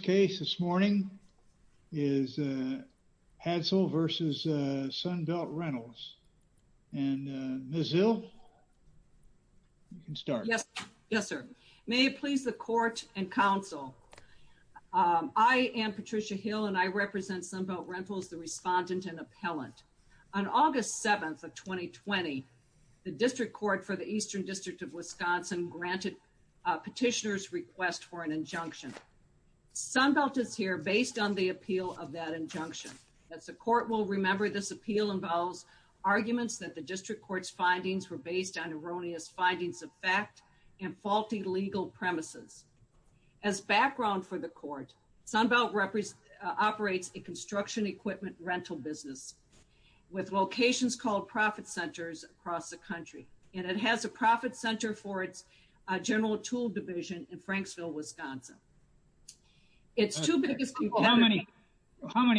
case this morning is Hadsall versus Sunbelt Rentals and Ms. Hill, you can start. Yes. Yes, sir. May it please the court and counsel. I am Patricia Hill and I represent Sunbelt Rentals, the respondent and appellant. On August 7th of 2020, the District Court for the Eastern District of Wisconsin granted petitioners request for an injunction. Sunbelt is here based on the appeal of that injunction. As the court will remember, this appeal involves arguments that the District Court's findings were based on erroneous findings of fact and faulty legal premises. As background for the court, Sunbelt operates a construction equipment rental business with locations called profit centers across the country and it has a profit center for its general tool division in Franksville, Wisconsin. It's two biggest people. How many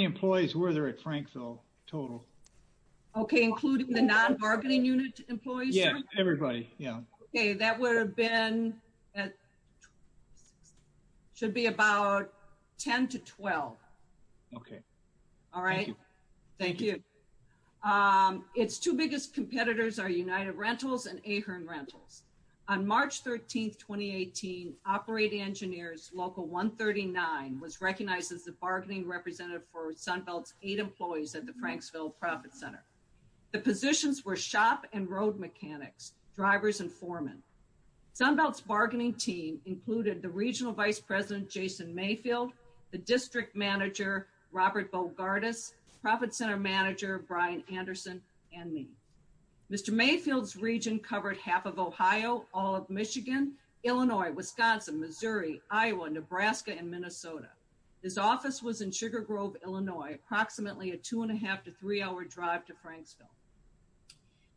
employees were there at Frankville total? Okay, including the non-bargaining unit employees? Yeah, everybody. Yeah. Okay, that would have been at should be about 10 to 12. Okay. All right. Thank you. It's two biggest competitors are United Rentals and Ahern Rentals. On March 13th, 2018, Operating Engineers Local 139 was recognized as the bargaining representative for Sunbelt's eight employees at the Franksville Profit Center. The positions were shop and road mechanics, drivers and foreman. Sunbelt's bargaining team included the Regional Vice President Jason Mayfield, the District Manager Robert Bogardus, Profit Center Manager Brian Anderson, and me. Mr. Mayfield's region covered half of Ohio, all of Michigan, Illinois, Wisconsin, Missouri, Iowa, Nebraska, and Minnesota. His office was in Sugar Grove, Illinois, approximately a two and a half to three hour drive to Franksville.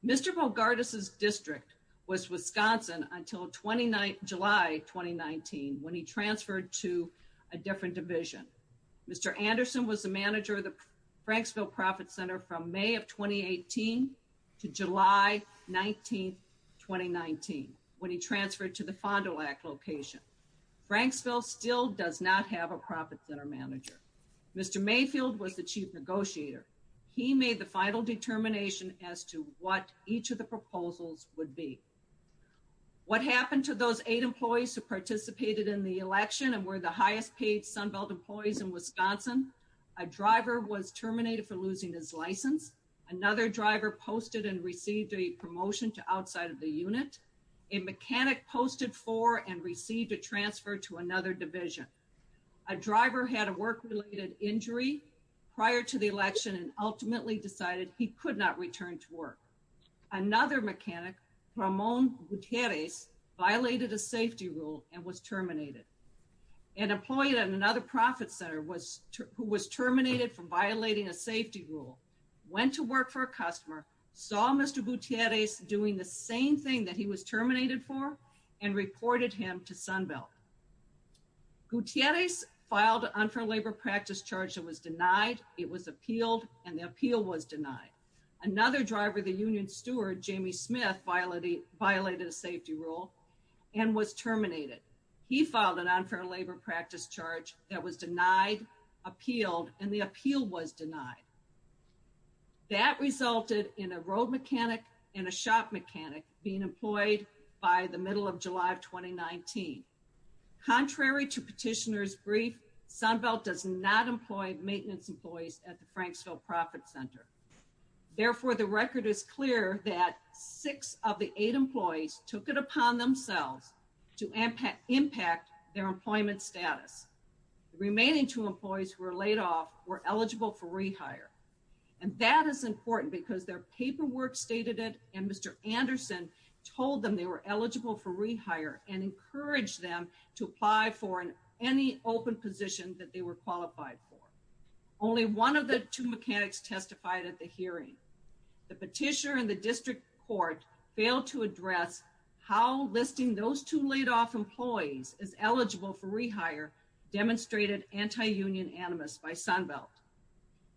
Mr. Bogardus' district was Wisconsin until July 2019 when he transferred to a different division. Mr. Anderson was the manager of the Franksville Profit Center from May of 2018 to July 19th, 2019 when he transferred to the Fond du Lac location. Franksville still does not have a Profit Center Manager. Mr. Mayfield was the Chief Negotiator. He made the final determination as to what each of the proposals would be. What happened to those eight employees who participated in the election and were the highest paid Sunbelt employees in Wisconsin? A driver was terminated for losing his license. Another driver posted and received a promotion to outside of the unit. A mechanic posted for and received a transfer to another division. A driver had a work-related injury prior to the election and ultimately decided he could not return to work. Another mechanic, Ramon Gutierrez, violated a safety rule and was terminated. An employee at another Profit Center who was terminated for violating a safety rule went to work for a customer, saw Mr. Gutierrez doing the same thing that he was terminated for, and reported him to Sunbelt. Gutierrez filed an unfair labor practice charge that was denied, it was appealed, and the appeal was denied. Another driver, the union steward, Jamie Smith, violated a safety rule and was terminated. He filed an unfair labor practice charge that was denied. That resulted in a road mechanic and a shop mechanic being employed by the middle of July of 2019. Contrary to petitioner's brief, Sunbelt does not employ maintenance employees at the Franksville Profit Center. Therefore, the record is clear that six of the eight employees took it upon themselves to impact their employment status. The remaining two employees who were laid off were eligible for rehire, and that is important because their paperwork stated it, and Mr. Anderson told them they were eligible for rehire and encouraged them to apply for any open position that they were qualified for. Only one of the two mechanics testified at the hearing. The petitioner and the district court failed to address how listing those two laid off employees is eligible for rehire demonstrated anti-union animus by Sunbelt.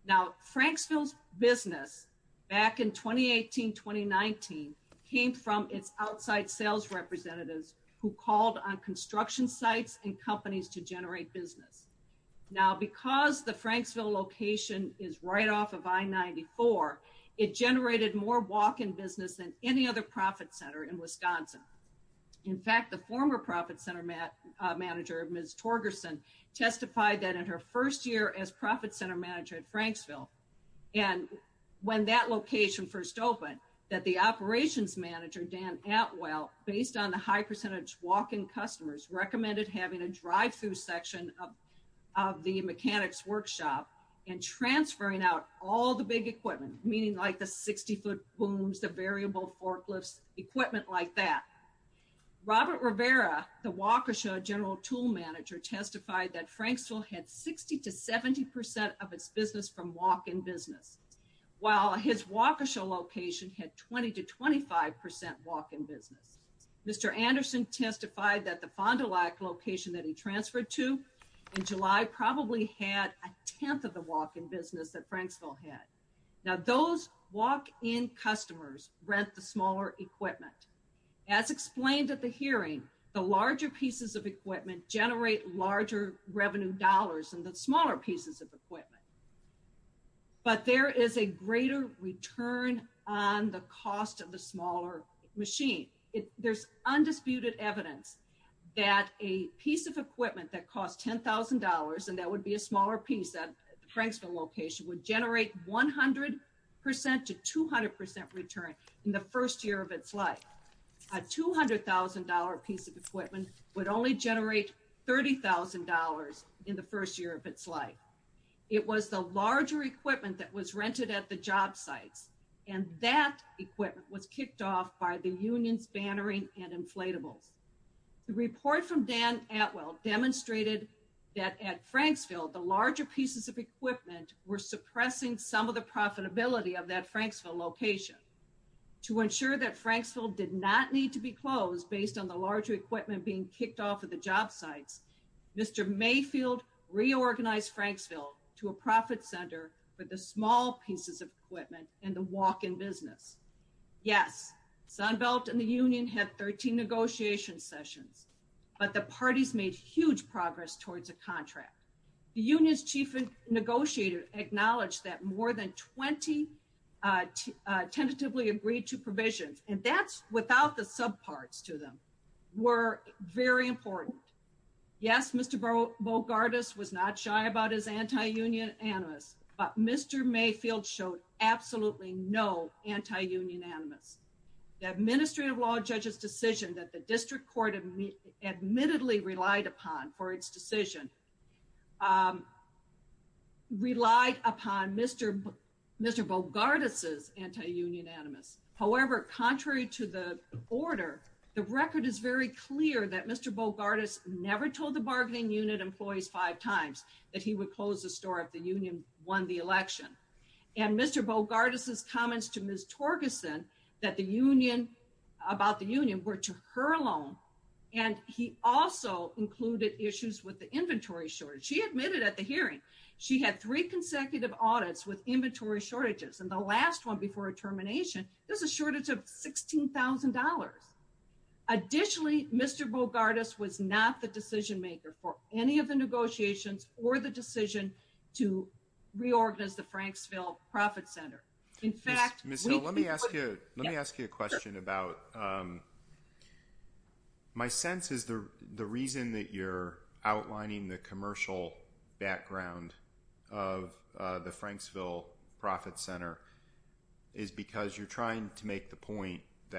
Now, Franksville's business back in 2018-2019 came from its outside sales representatives who called on construction sites and companies to generate business. Now, because the Franksville location is right off of I-94, it generated more walk-in business than any other profit center in Wisconsin. In fact, the former profit center manager, Ms. Torgerson, testified that in her first year as profit center manager at Franksville, and when that location first opened, that the operations manager, Dan Atwell, based on the high percentage walk-in customers, recommended having a drive-through section of the mechanics workshop and transferring out all the big equipment, meaning like the 60-foot booms, the variable forklifts, equipment like that. Robert Rivera, the Waukesha general tool manager, testified that Franksville had 60-70 percent of its business from walk-in business, while his Waukesha location had 20-25 percent walk-in business. Mr. Anderson testified that the Fond du Lac location that he transferred to in July probably had a tenth of the walk-in business that Franksville had. Now, those walk-in customers rent the smaller equipment. As explained at the hearing, the larger pieces of equipment generate larger revenue dollars than the smaller pieces of equipment, but there is a greater return on the cost of the smaller machine. There's undisputed evidence that a piece of equipment that cost $10,000, and that would be a Waukesha location, would generate 100 percent to 200 percent return in the first year of its life. A $200,000 piece of equipment would only generate $30,000 in the first year of its life. It was the larger equipment that was rented at the job sites, and that equipment was kicked off by the union's bannering and inflatables. The report from Dan Atwell demonstrated that at suppressing some of the profitability of that Franksville location. To ensure that Franksville did not need to be closed based on the larger equipment being kicked off of the job sites, Mr. Mayfield reorganized Franksville to a profit center for the small pieces of equipment and the walk-in business. Yes, Sunbelt and the union had 13 negotiation sessions, but the parties made huge progress towards a contract. The union's chief negotiator acknowledged that more than 20 tentatively agreed to provisions, and that's without the subparts to them, were very important. Yes, Mr. Bogardus was not shy about his anti-union animus, but Mr. Mayfield showed absolutely no anti-union animus. The administrative law judge's decision that the admittedly relied upon for its decision relied upon Mr. Bogardus's anti-union animus. However, contrary to the order, the record is very clear that Mr. Bogardus never told the bargaining unit employees five times that he would close the store if the union won the election. And Mr. Bogardus's comments to Ms. Torgerson that the union, about the union, were to her alone, and he also included issues with the inventory shortage. She admitted at the hearing she had three consecutive audits with inventory shortages, and the last one before a termination there's a shortage of $16,000. Additionally, Mr. Bogardus was not the decision maker for any of the negotiations or the decision to reorganize the Franksville Profit Center. Ms. Hill, let me ask you a question. My sense is the reason that you're outlining the commercial background of the Franksville Profit Center is because you're not looking at the actual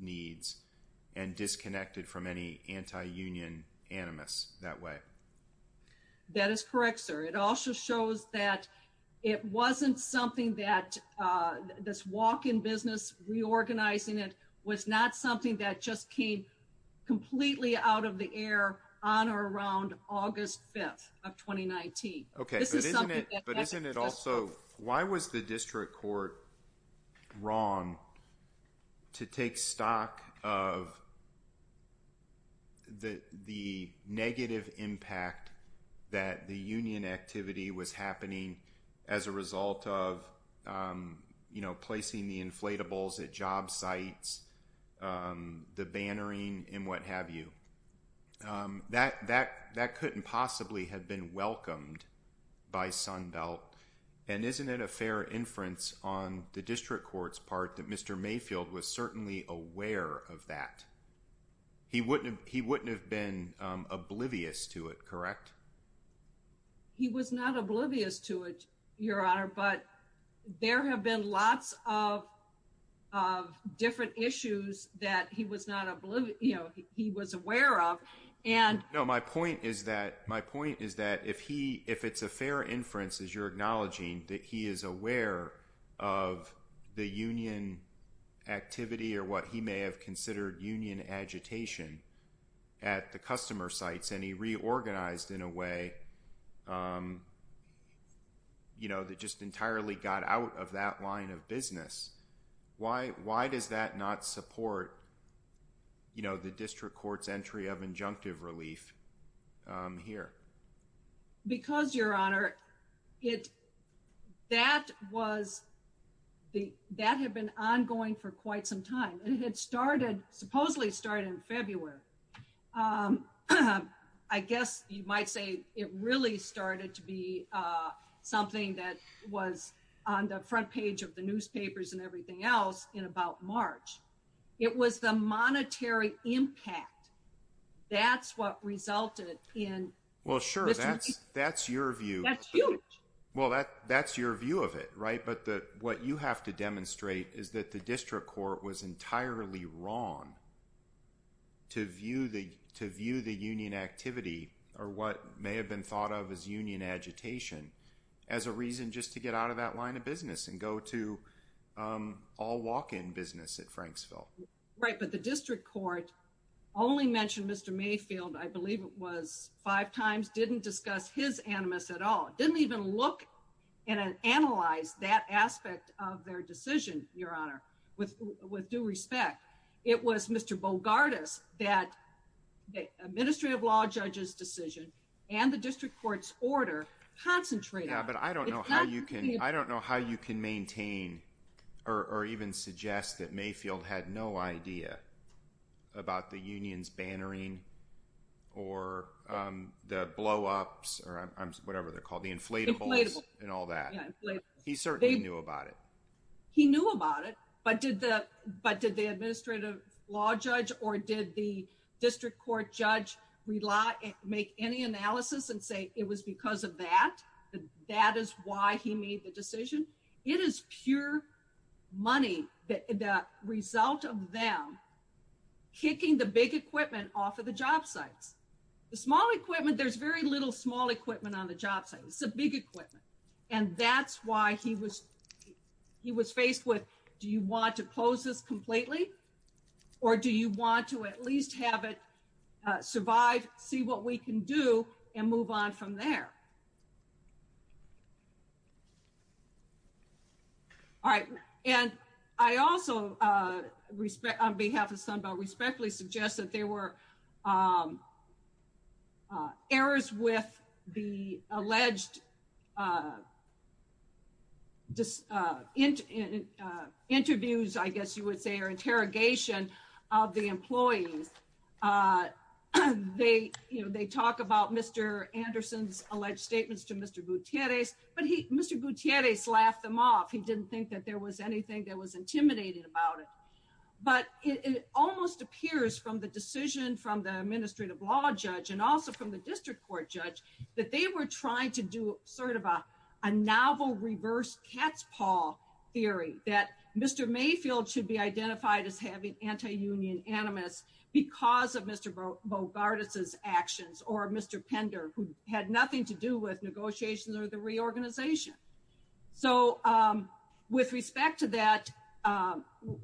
needs and disconnected from any anti-union animus that way. That is correct, sir. It also shows that it wasn't something that this walk-in business, reorganizing it, was not something that just came completely out of the air on or around August 5th of 2019. Okay, but isn't it also, why was the district court wrong to take stock of the negative impact that the union activity was happening as a result of placing the inflatables at job sites, the bannering, and what have you? That couldn't possibly have been welcomed by Sunbelt, and isn't it a fair inference on the district court's part that Mr. Mayfield was certainly aware of that? He wouldn't have been oblivious to it, correct? He was not oblivious to it, Your Honor, but there have been lots of different issues that he was aware of. No, my point is that if it's a fair inference, as you're acknowledging, that he is aware of the union activity or what he may have considered union agitation at the customer sites, and he reorganized in a way that just entirely got out of that line of scrutiny. So, I'm not sure that the district court's entry of injunctive relief here. Because, Your Honor, that had been ongoing for quite some time, and it had supposedly started in February. I guess you might say it really started to be something that was on the front page of the newspapers and everything else in about March. It was the monetary impact that's what resulted in... Well, sure, that's your view. That's huge. Well, that's your view of it, right? But what you have to demonstrate is that the district court was entirely wrong to view the union activity or what may have been thought of as union agitation as a reason just to get out of that line of business and go to all walk-in business at Franksville. Right, but the district court only mentioned Mr. Mayfield, I believe it was five times, didn't discuss his animus at all, didn't even look and analyze that aspect of their decision, Your Honor, with due respect. It was Mr. Bogardus that the Ministry of Law Judge's decision and the district court's order concentrated... Yeah, but I don't know how you can maintain or even suggest that Mayfield had no idea about the union's bannering or the blow-ups or whatever they're called, the inflatables and all that. He certainly knew about it. He knew about it, but did the administrative law judge or did the he made the decision? It is pure money, the result of them kicking the big equipment off of the job sites. The small equipment, there's very little small equipment on the job site. It's a big equipment and that's why he was faced with, do you want to close this completely or do you want to at least have it survive, see what we can do and move on from there? All right. And I also, on behalf of Sunbelt, respectfully suggest that there were errors with the alleged interviews, I guess you would say, or interrogation of the employees. They talk about Mr. Anderson's alleged statements to Mr. Gutierrez, but Mr. Gutierrez laughed them off. He didn't think that there was anything that was intimidating about it, but it almost appears from the decision from the administrative law judge and also from the district court judge that they were trying to do sort of a novel reverse cat's paw theory that Mr. Mayfield should be identified as having anti-union animus because of Mr. Bogardus's actions or Mr. Pender, who had nothing to do with negotiations or the reorganization. So with respect to that,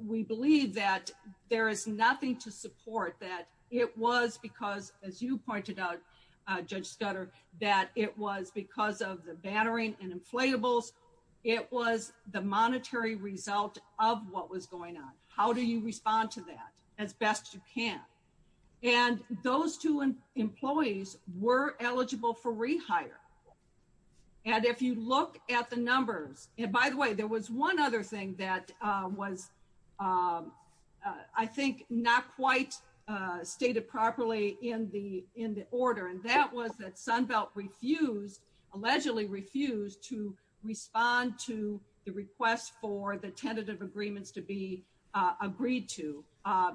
we believe that there is nothing to support that it was because, as you pointed out, Judge Scudder, that it was because of the bannering and inflatables. It was the monetary result of what was going on. How do you respond to that as best you can? And those two employees were eligible for rehire. And if you look at the numbers, and by the way, there was one other thing that was I think not quite stated properly in the order, and that was that Sunbelt refused, allegedly refused to respond to the request for the tentative agreements to be agreed to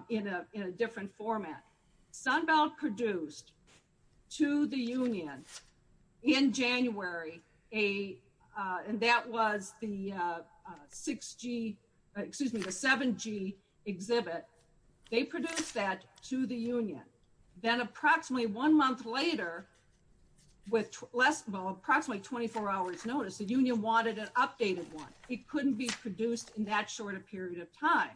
in a different format. Sunbelt produced to the union in January, and that was the 6G, excuse me, the 7G exhibit. They produced that to the union. Then approximately one month later with less, well, approximately 24 hours notice, the union wanted an updated one. It couldn't be produced in that short a period of time.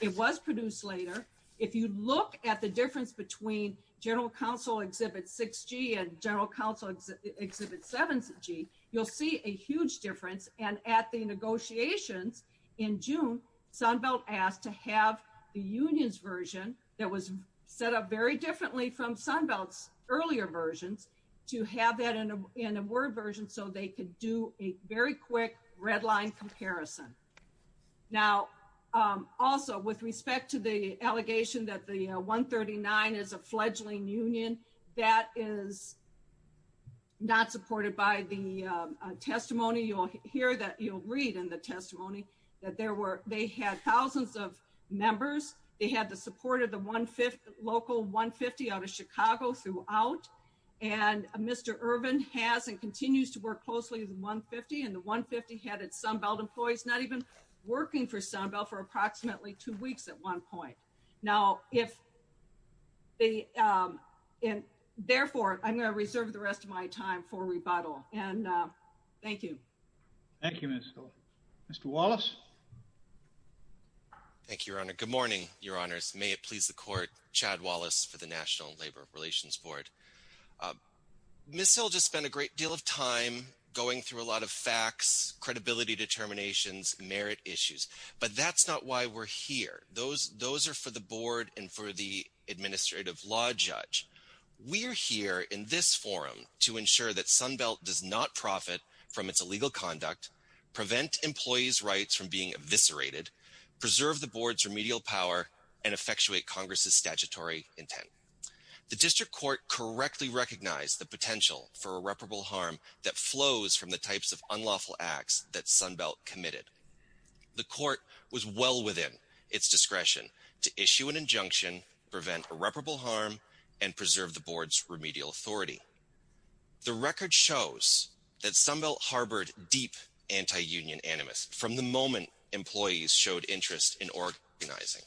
It was produced later. If you look at the difference between General Counsel Exhibit 6G and General Counsel Exhibit 7G, you'll see a huge difference. And at the negotiations in June, Sunbelt asked to have the union's version that was set up very quickly. They had to have that in a word version so they could do a very quick red line comparison. Now, also with respect to the allegation that the 139 is a fledgling union, that is not supported by the testimony. You'll hear that, you'll read in the testimony, that they had thousands of members. They had the support of the local 150 out of Chicago throughout. And Mr. Irvin has and continues to work closely with the 150, and the 150 had its Sunbelt employees not even working for Sunbelt for approximately two weeks at one point. Now, therefore, I'm going to reserve the rest of my time for rebuttal. And thank you. Thank you, Minister. Mr. Wallace. Thank you, Your Honor. Good morning, Your Honors. May it please the court, Chad Wallace for the Labor Relations Board. Ms. Hill just spent a great deal of time going through a lot of facts, credibility determinations, merit issues. But that's not why we're here. Those are for the board and for the administrative law judge. We're here in this forum to ensure that Sunbelt does not profit from its illegal conduct, prevent employees' rights from being eviscerated, preserve the board's remedial power, and effectuate Congress's statutory intent. The district court correctly recognized the potential for irreparable harm that flows from the types of unlawful acts that Sunbelt committed. The court was well within its discretion to issue an injunction, prevent irreparable harm, and preserve the board's remedial authority. The record shows that Sunbelt harbored deep anti-union animus from the moment employees showed interest in organizing.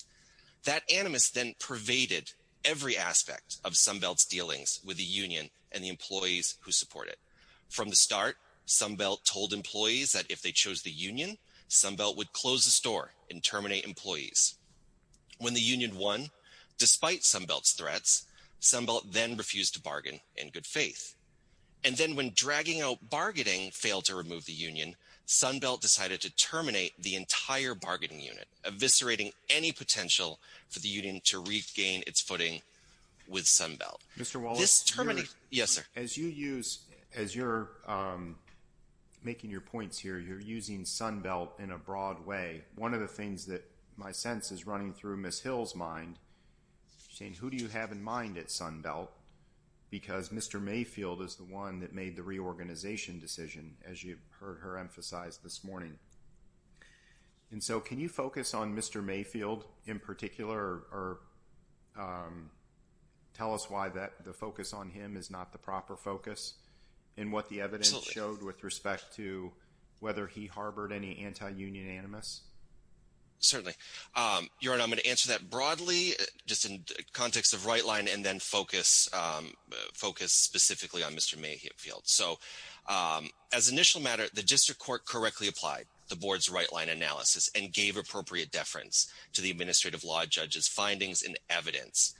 That animus then pervaded every aspect of Sunbelt's dealings with the union and the employees who support it. From the start, Sunbelt told employees that if they chose the union, Sunbelt would close the store and terminate employees. When the union won, despite Sunbelt's threats, Sunbelt then refused to bargain in good faith. And then when dragging out bargaining failed to remove the union, Sunbelt decided to terminate the entire bargaining unit, eviscerating any potential for the union to regain its footing with Sunbelt. Mr. Wallace, as you're making your points here, you're using Sunbelt in a broad way. One of the things that my sense is running through Ms. Hill's mind, saying who do you have in mind at Sunbelt? Because Mr. Mayfield is the one that made the reorganization decision, as you heard her emphasize this morning. And so can you focus on Mr. Mayfield in particular or tell us why that the focus on him is not the proper focus and what the evidence showed with respect to whether he harbored any anti-union animus? Certainly. Your Honor, I'm going to answer that broadly, just in context of right line, and then focus specifically on Mr. Mayfield. So as initial matter, the district court correctly applied the board's right line analysis and gave appropriate deference to the administrative law judge's findings and evidence.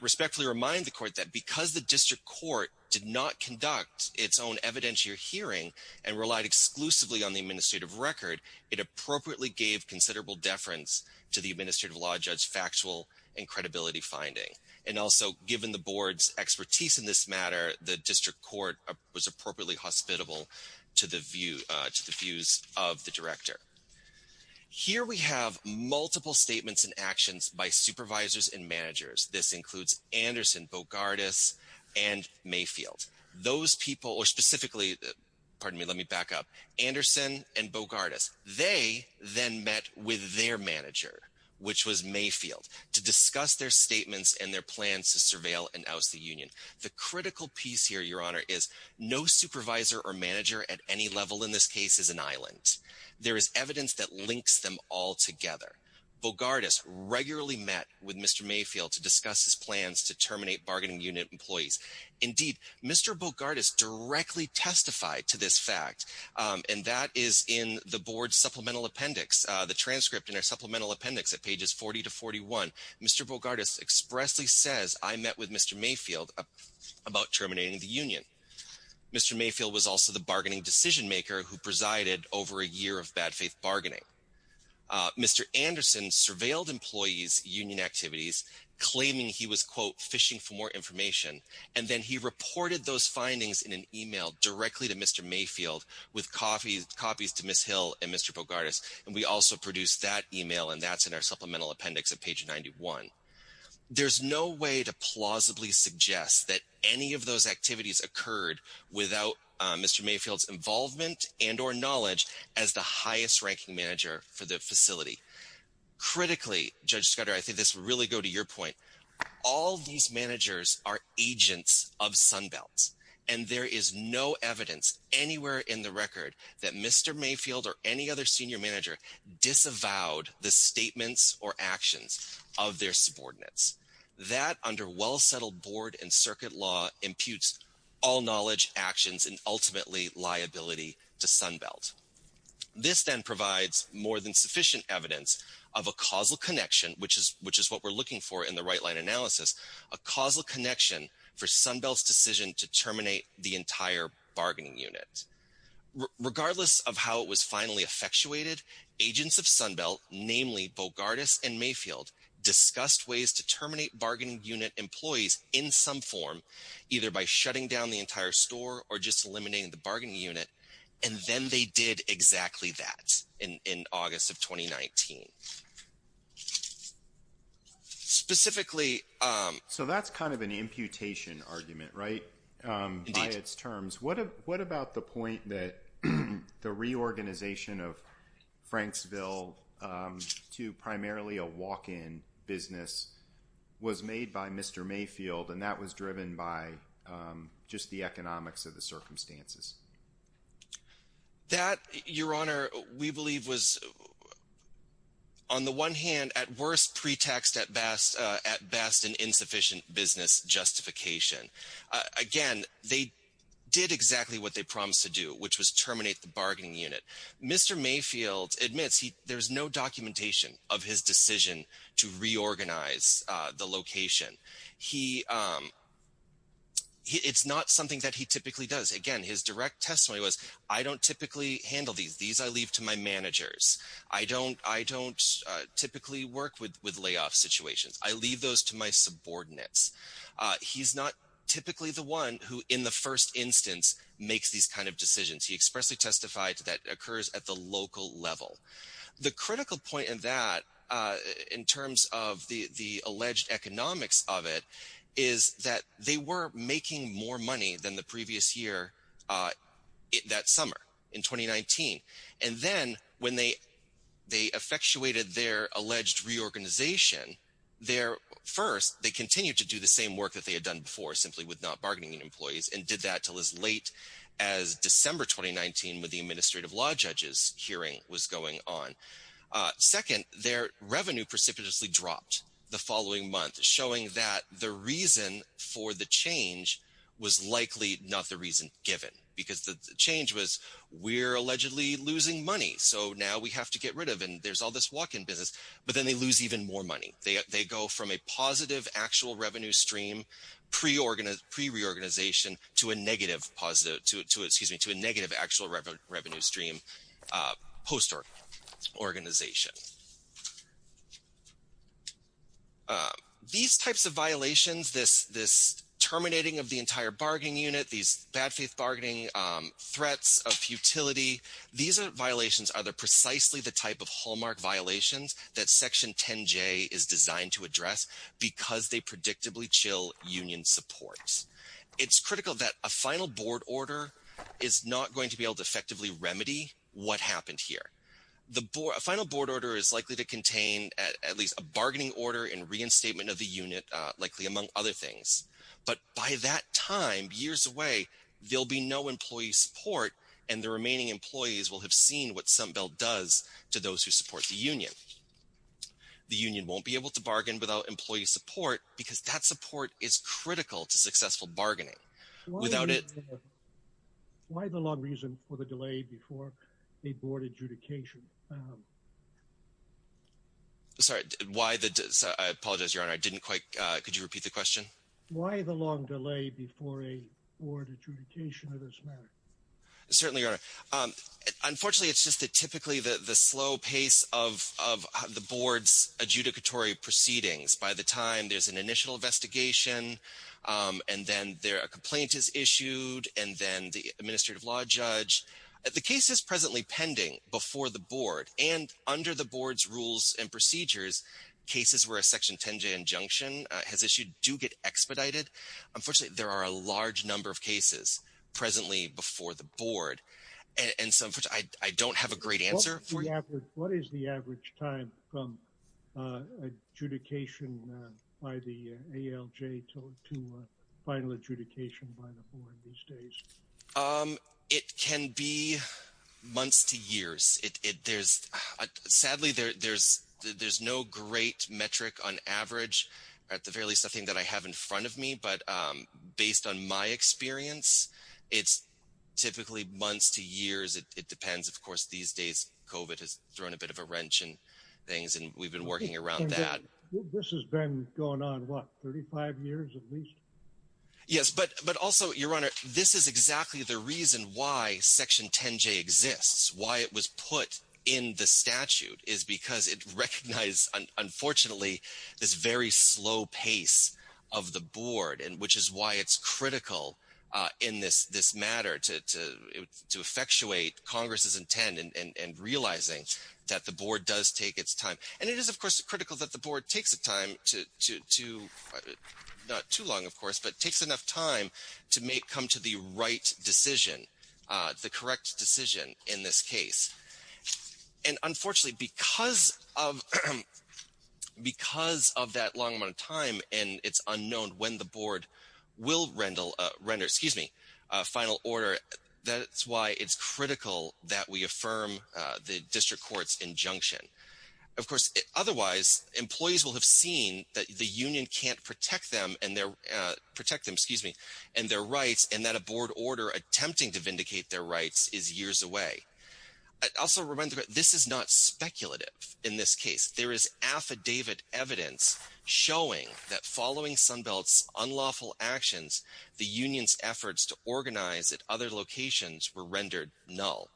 Respectfully remind the court that because the district court did not conduct its own evidentiary hearing and relied exclusively on the administrative record, it appropriately gave considerable deference to the administrative law judge's factual and credibility finding. And also given the board's expertise in this matter, the district court was appropriately hospitable to the views of the director. Here we have multiple statements and actions by supervisors and managers. This includes Anderson, Bogardas, and Mayfield. Those people, or specifically, pardon me, let me back up. Anderson and Bogardas, they then met with their manager, which was Mayfield, to discuss their statements and their plans to surveil and oust the union. The critical piece here, Your Honor, is no supervisor or manager at any level in this case is an island. There is evidence that links them all together. Bogardas regularly met with Mr. Mayfield to discuss his plans to terminate bargaining unit employees. Indeed, Mr. Bogardas directly testified to this fact, and that is in the board supplemental appendix, the transcript in our supplemental appendix at pages 40 to 41. Mr. Bogardas expressly says, I met with Mr. Mayfield about terminating the union. Mr. Mayfield was also the bargaining decision maker who presided over a year of bad faith bargaining. Mr. Anderson surveilled employees' union activities, claiming he was, quote, fishing for more information, and then he reported those findings in an email directly to Mr. Mayfield with copies to Ms. Hill and Mr. Bogardas, and we also produced that email, and that's in our supplemental appendix at page 91. There's no way to plausibly suggest that any of those activities occurred without Mr. Mayfield's involvement and or knowledge as the highest ranking manager for the facility. Critically, Judge Scudder, I think this will really go to your point. All these managers are agents of Sunbelt, and there is no evidence anywhere in the record that Mr. Mayfield or any other senior manager disavowed the statements or actions of their all-knowledge actions and ultimately liability to Sunbelt. This then provides more than sufficient evidence of a causal connection, which is what we're looking for in the right-line analysis, a causal connection for Sunbelt's decision to terminate the entire bargaining unit. Regardless of how it was finally effectuated, agents of Sunbelt, namely Bogardas and Mayfield, discussed ways to terminate bargaining unit employees in some form, either by shutting down the entire store or just eliminating the bargaining unit, and then they did exactly that in August of 2019. Specifically... So that's kind of an imputation argument, right, by its terms. What about the point that the reorganization of Franksville to primarily a walk-in business was made by Mr. Mayfield, and that was driven by just the economics of the circumstances? That, Your Honor, we believe was, on the one hand, at worst, pretext at best an insufficient business justification. Again, they did exactly what they promised to do, which was terminate the bargaining unit. Mr. Mayfield admits there's no documentation of his decision to reorganize the location. It's not something that he typically does. Again, his direct testimony was, I don't typically handle these. These I leave to my managers. I don't typically work with layoff situations. I leave those to my subordinates. He's not typically the one who, in the first instance, makes these kind of decisions. He expressly that occurs at the local level. The critical point in that, in terms of the alleged economics of it, is that they were making more money than the previous year that summer in 2019. And then when they effectuated their alleged reorganization, first, they continued to do the same work that they had done before, simply with not bargaining employees, and did that until as late as December 2019, when the administrative law judge's hearing was going on. Second, their revenue precipitously dropped the following month, showing that the reason for the change was likely not the reason given, because the change was, we're allegedly losing money, so now we have to get rid of it, and there's all this walk-in business. But then they lose even more to a negative actual revenue stream post-organization. These types of violations, this terminating of the entire bargaining unit, these bad-faith bargaining threats of futility, these violations are precisely the type of hallmark violations that Section 10J is designed to address, because they predictably chill union supports. It's critical that a final board order is not going to be able to effectively remedy what happened here. A final board order is likely to contain at least a bargaining order and reinstatement of the unit, likely among other things. But by that time, years away, there'll be no employee support, and the remaining employees will have seen what Sunbelt does to those who support the union. The union won't be able to bargain without employee support, because that support is without it. Why the long reason for the delay before a board adjudication? Sorry, I apologize, Your Honor, I didn't quite, could you repeat the question? Why the long delay before a board adjudication of this matter? Certainly, Your Honor. Unfortunately, it's just that typically the slow pace of the board's adjudicatory proceedings, by the time there's an initial investigation, and then a complaint is issued, and then the administrative law judge, the case is presently pending before the board, and under the board's rules and procedures, cases where a Section 10J injunction has issued do get expedited. Unfortunately, there are a large number of cases presently before the board, and so I don't have a great answer for you. What is the average time from adjudication by the ALJ to final adjudication by the board these days? It can be months to years. Sadly, there's no great metric on average, at the very least, nothing that I have in front of me, but based on my experience, it's typically months to years. It depends. Of course, these days, COVID has thrown a bit of a wrench in things, and we've been working around that. This has been going on, what, 35 years at least? Yes, but also, Your Honor, this is exactly the reason why Section 10J exists, why it was put in the statute, is because it recognized, unfortunately, this very slow pace of the board, which is why it's critical in this matter to effectuate Congress's intent in realizing that the board does take its time. And it is, of course, critical that the board takes the time to, not too long, of course, but takes enough time to come to the right decision, the correct decision in this case. And unfortunately, because of that long amount of time, and it's unknown when the board will final order, that's why it's critical that we affirm the district court's injunction. Of course, otherwise, employees will have seen that the union can't protect them and their rights, and that a board order attempting to vindicate their rights is years away. Also, this is not speculative in this case. There is affidavit evidence showing that following Sunbelt's unlawful actions, the union's efforts to organize at other locations were rendered null.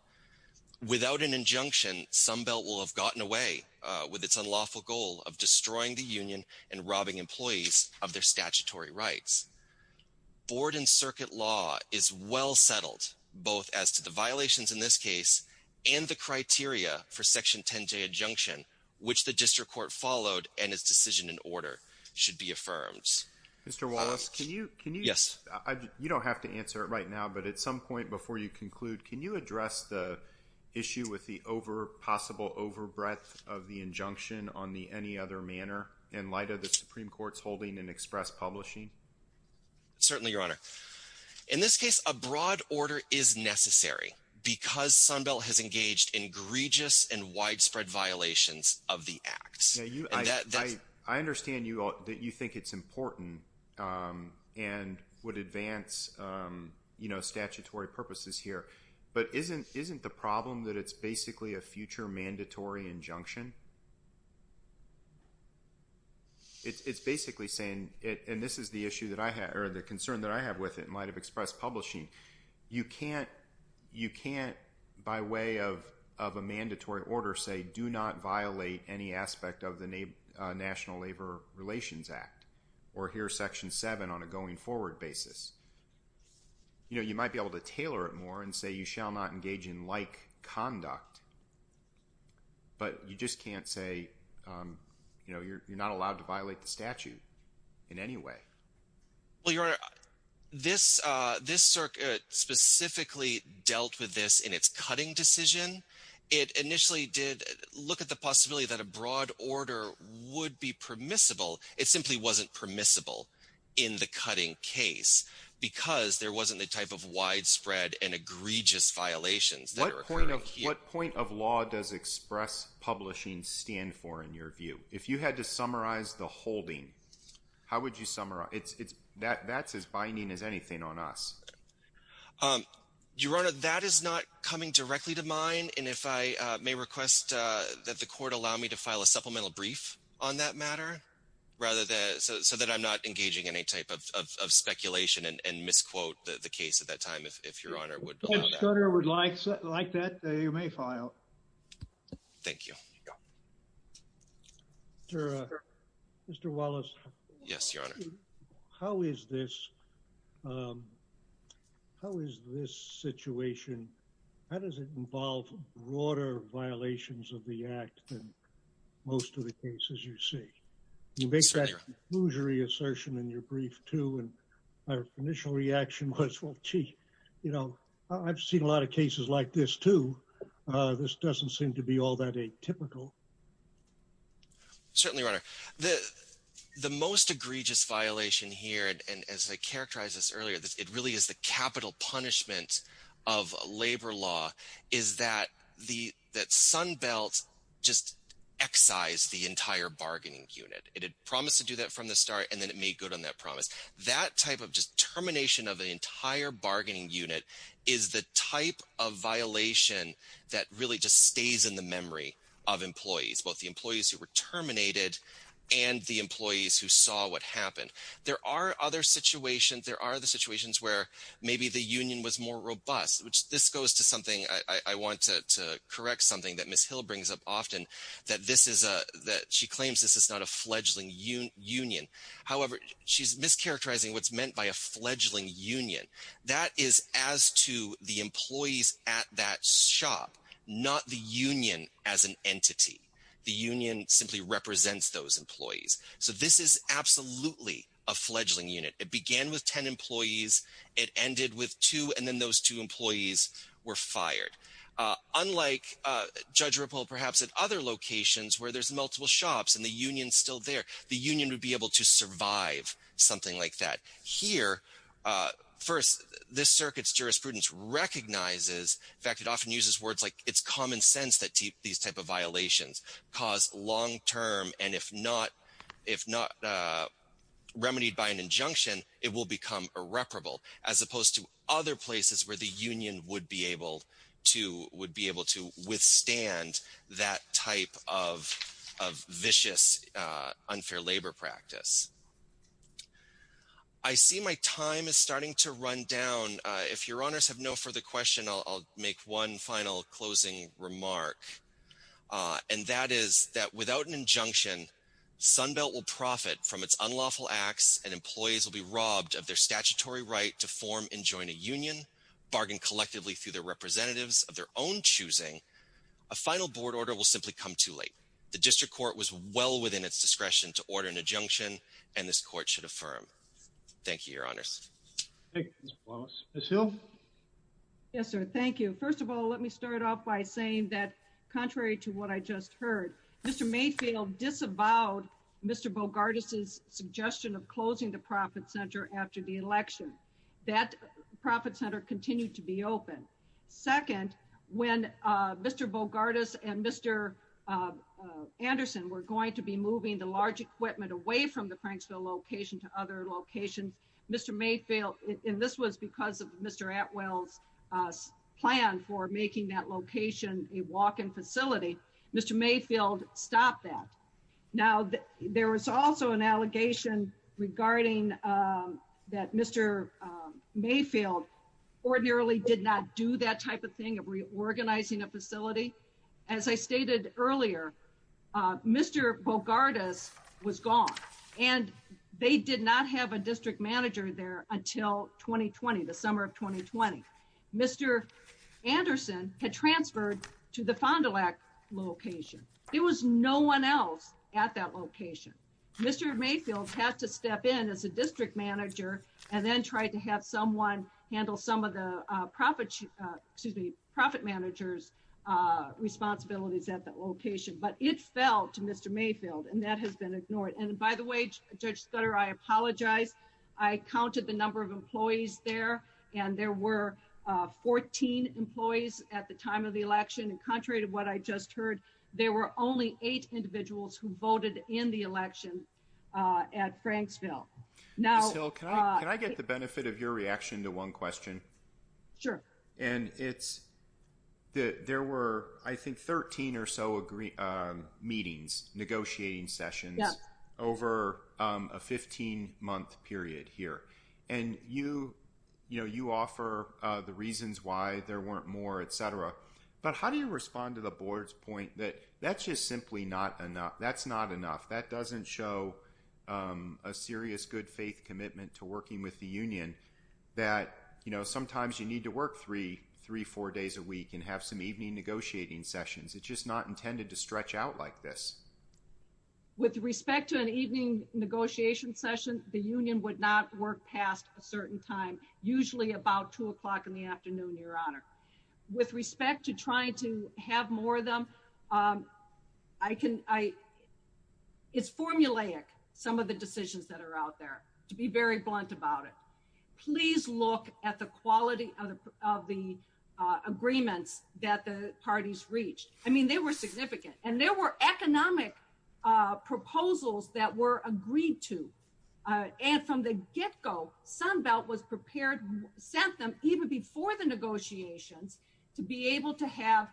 Without an injunction, Sunbelt will have gotten away with its unlawful goal of destroying the union and robbing employees of their statutory rights. Board and circuit law is well settled, both as to the violations in this case and the criteria for Section 10J injunction, which the district court followed and its decision in order should be affirmed. Mr. Wallace, can you... Yes. You don't have to answer it right now, but at some point before you conclude, can you address the issue with the possible overbreadth of the injunction on the any other manner in light of the Supreme Court's holding in express publishing? Certainly, Your Honor. In this case, a broad order is necessary because Sunbelt has engaged in egregious and widespread violations of the acts. I understand that you think it's important and would advance statutory purposes here, but isn't the problem that it's basically a future mandatory injunction? It's basically saying, and this is the issue that I have, or the concern that I have with it in light of express publishing, you can't by way of a mandatory order say, do not violate any aspect of the National Labor Relations Act or here's Section 7 on a going forward basis. You might be able to tailor it more and say, you shall not engage in like conduct, but you just can't say you're not allowed to violate the statute in any way. Well, Your Honor, this circuit specifically dealt with this in its cutting decision. It initially did look at the possibility that a broad order would be permissible. It simply wasn't permissible in the cutting case because there wasn't the type of widespread and egregious violations that are occurring here. What point of law does express publishing stand for in your view? If you had to summarize the holding, how would you summarize? That's as binding as anything on us. Your Honor, that is not coming directly to mind. And if I may request that the court allow me to file a supplemental brief on that matter, so that I'm not engaging any type of speculation and misquote the case at that time, if Your Honor would allow that. Your Honor, I would like that. You may file. Thank you. Mr. Wallace. Yes, Your Honor. How is this situation, how does it involve broader violations of the act than most of the cases you see? You make that exclusory assertion in your brief too. My initial reaction was, well, gee, I've seen a lot of cases like this too. This doesn't seem to be all that atypical. Certainly, Your Honor. The most egregious violation here, and as I characterized this earlier, it really is the capital punishment of labor law, is that Sunbelt just excised the entire bargaining unit. It had promised to do that from the start, and then it made good on that promise. That type of just termination of the entire bargaining unit is the type of violation that really just stays in the memory of employees, both the employees who were terminated and the employees who saw what happened. There are other situations, there are the situations where maybe the union was more robust, which this goes to something, I want to correct something that Ms. Hill brings up often, that she claims this is not a fledgling union. However, she's mischaracterizing what's meant by a fledgling union. That is as to the employees at that shop, not the union as an entity. The union simply represents those employees. So this is absolutely a fledgling unit. It began with 10 employees, it ended with two, and then those two employees were fired. Unlike Judge Ripple, perhaps at other locations where there's multiple shops and the union's survived something like that. Here, first, this circuit's jurisprudence recognizes, in fact, it often uses words like it's common sense that these type of violations cause long term, and if not remedied by an injunction, it will become irreparable, as opposed to other places where the union would be able to withstand that type of vicious, unfair labor practice. I see my time is starting to run down. If your honors have no further question, I'll make one final closing remark. And that is that without an injunction, Sunbelt will profit from its unlawful acts and employees will be robbed of their statutory right to form and join a union, bargain collectively through their representatives of their own choosing. A final board order will simply come too late. The district court was well within its discretion to order an injunction, and this court should affirm. Thank you, your honors. Yes, sir. Thank you. First of all, let me start off by saying that contrary to what I just heard, Mr. Mayfield disavowed Mr. Bogardus' suggestion of closing the profit center after the election. That profit center continued to be open. Second, when Mr. Bogardus and Mr. Anderson were going to be moving the large equipment away from the Franksville location to other locations, Mr. Mayfield, and this was because of Mr. Atwell's plan for making that location a walk-in facility, Mr. Mayfield stopped that. Now, there was also an allegation regarding that Mr. Mayfield ordinarily did not do that type of thing of reorganizing a facility. As I stated earlier, Mr. Bogardus was gone, and they did not have a district manager there until 2020, the summer of 2020. Mr. Anderson had transferred to the Fond du Lac location. There was no one else at that location. Mr. Mayfield had to step in as a district manager and then try to have someone handle some of the profit managers' responsibilities at that location, but it fell to Mr. Mayfield, and that has been ignored. By the way, Judge Stutter, I apologize. I counted the number of employees there, and there were 14 employees at the time of the election. Contrary to what I just heard, there were only eight individuals who voted in the election at Franksville. Ms. Hill, can I get the benefit of your reaction to one question? Sure. And it's that there were, I think, 13 or so meetings, negotiating sessions over a 15-month period here, and you offer the reasons why there weren't more, et cetera, but how did you respond to the board's point that that's just simply not enough? That's not enough. That doesn't show a serious good faith commitment to working with the union that sometimes you need to work three, four days a week and have some evening negotiating sessions. It's just not intended to stretch out like this. With respect to an evening negotiation session, the union would not work past a certain time, usually about 2 o'clock in the afternoon, Your Honor. With respect to trying to have more of them, it's formulaic, some of the decisions that are out there, to be very blunt about it. Please look at the quality of the agreements that the parties reached. I mean, they were significant, and there were economic proposals that were agreed to. From the get-go, Sunbelt was prepared, sent them even before the negotiations to be able to have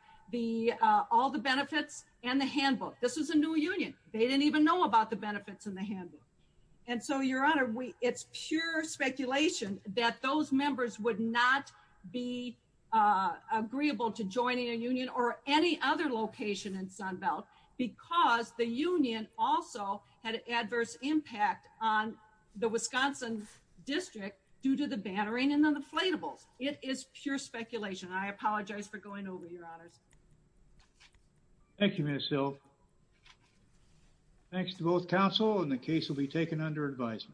all the benefits and the handbook. This was a new union. They didn't even know about the benefits and the handbook. So, Your Honor, it's pure speculation that those members would not be agreeable to joining a union or any other location in Sunbelt because the union also had an adverse impact on the Wisconsin district due to the bannering and the inflatables. It is pure speculation. I apologize for going over, Your Honors. Thank you, Ms. Hill. Thanks to both counsel, and the case will be taken under advisement.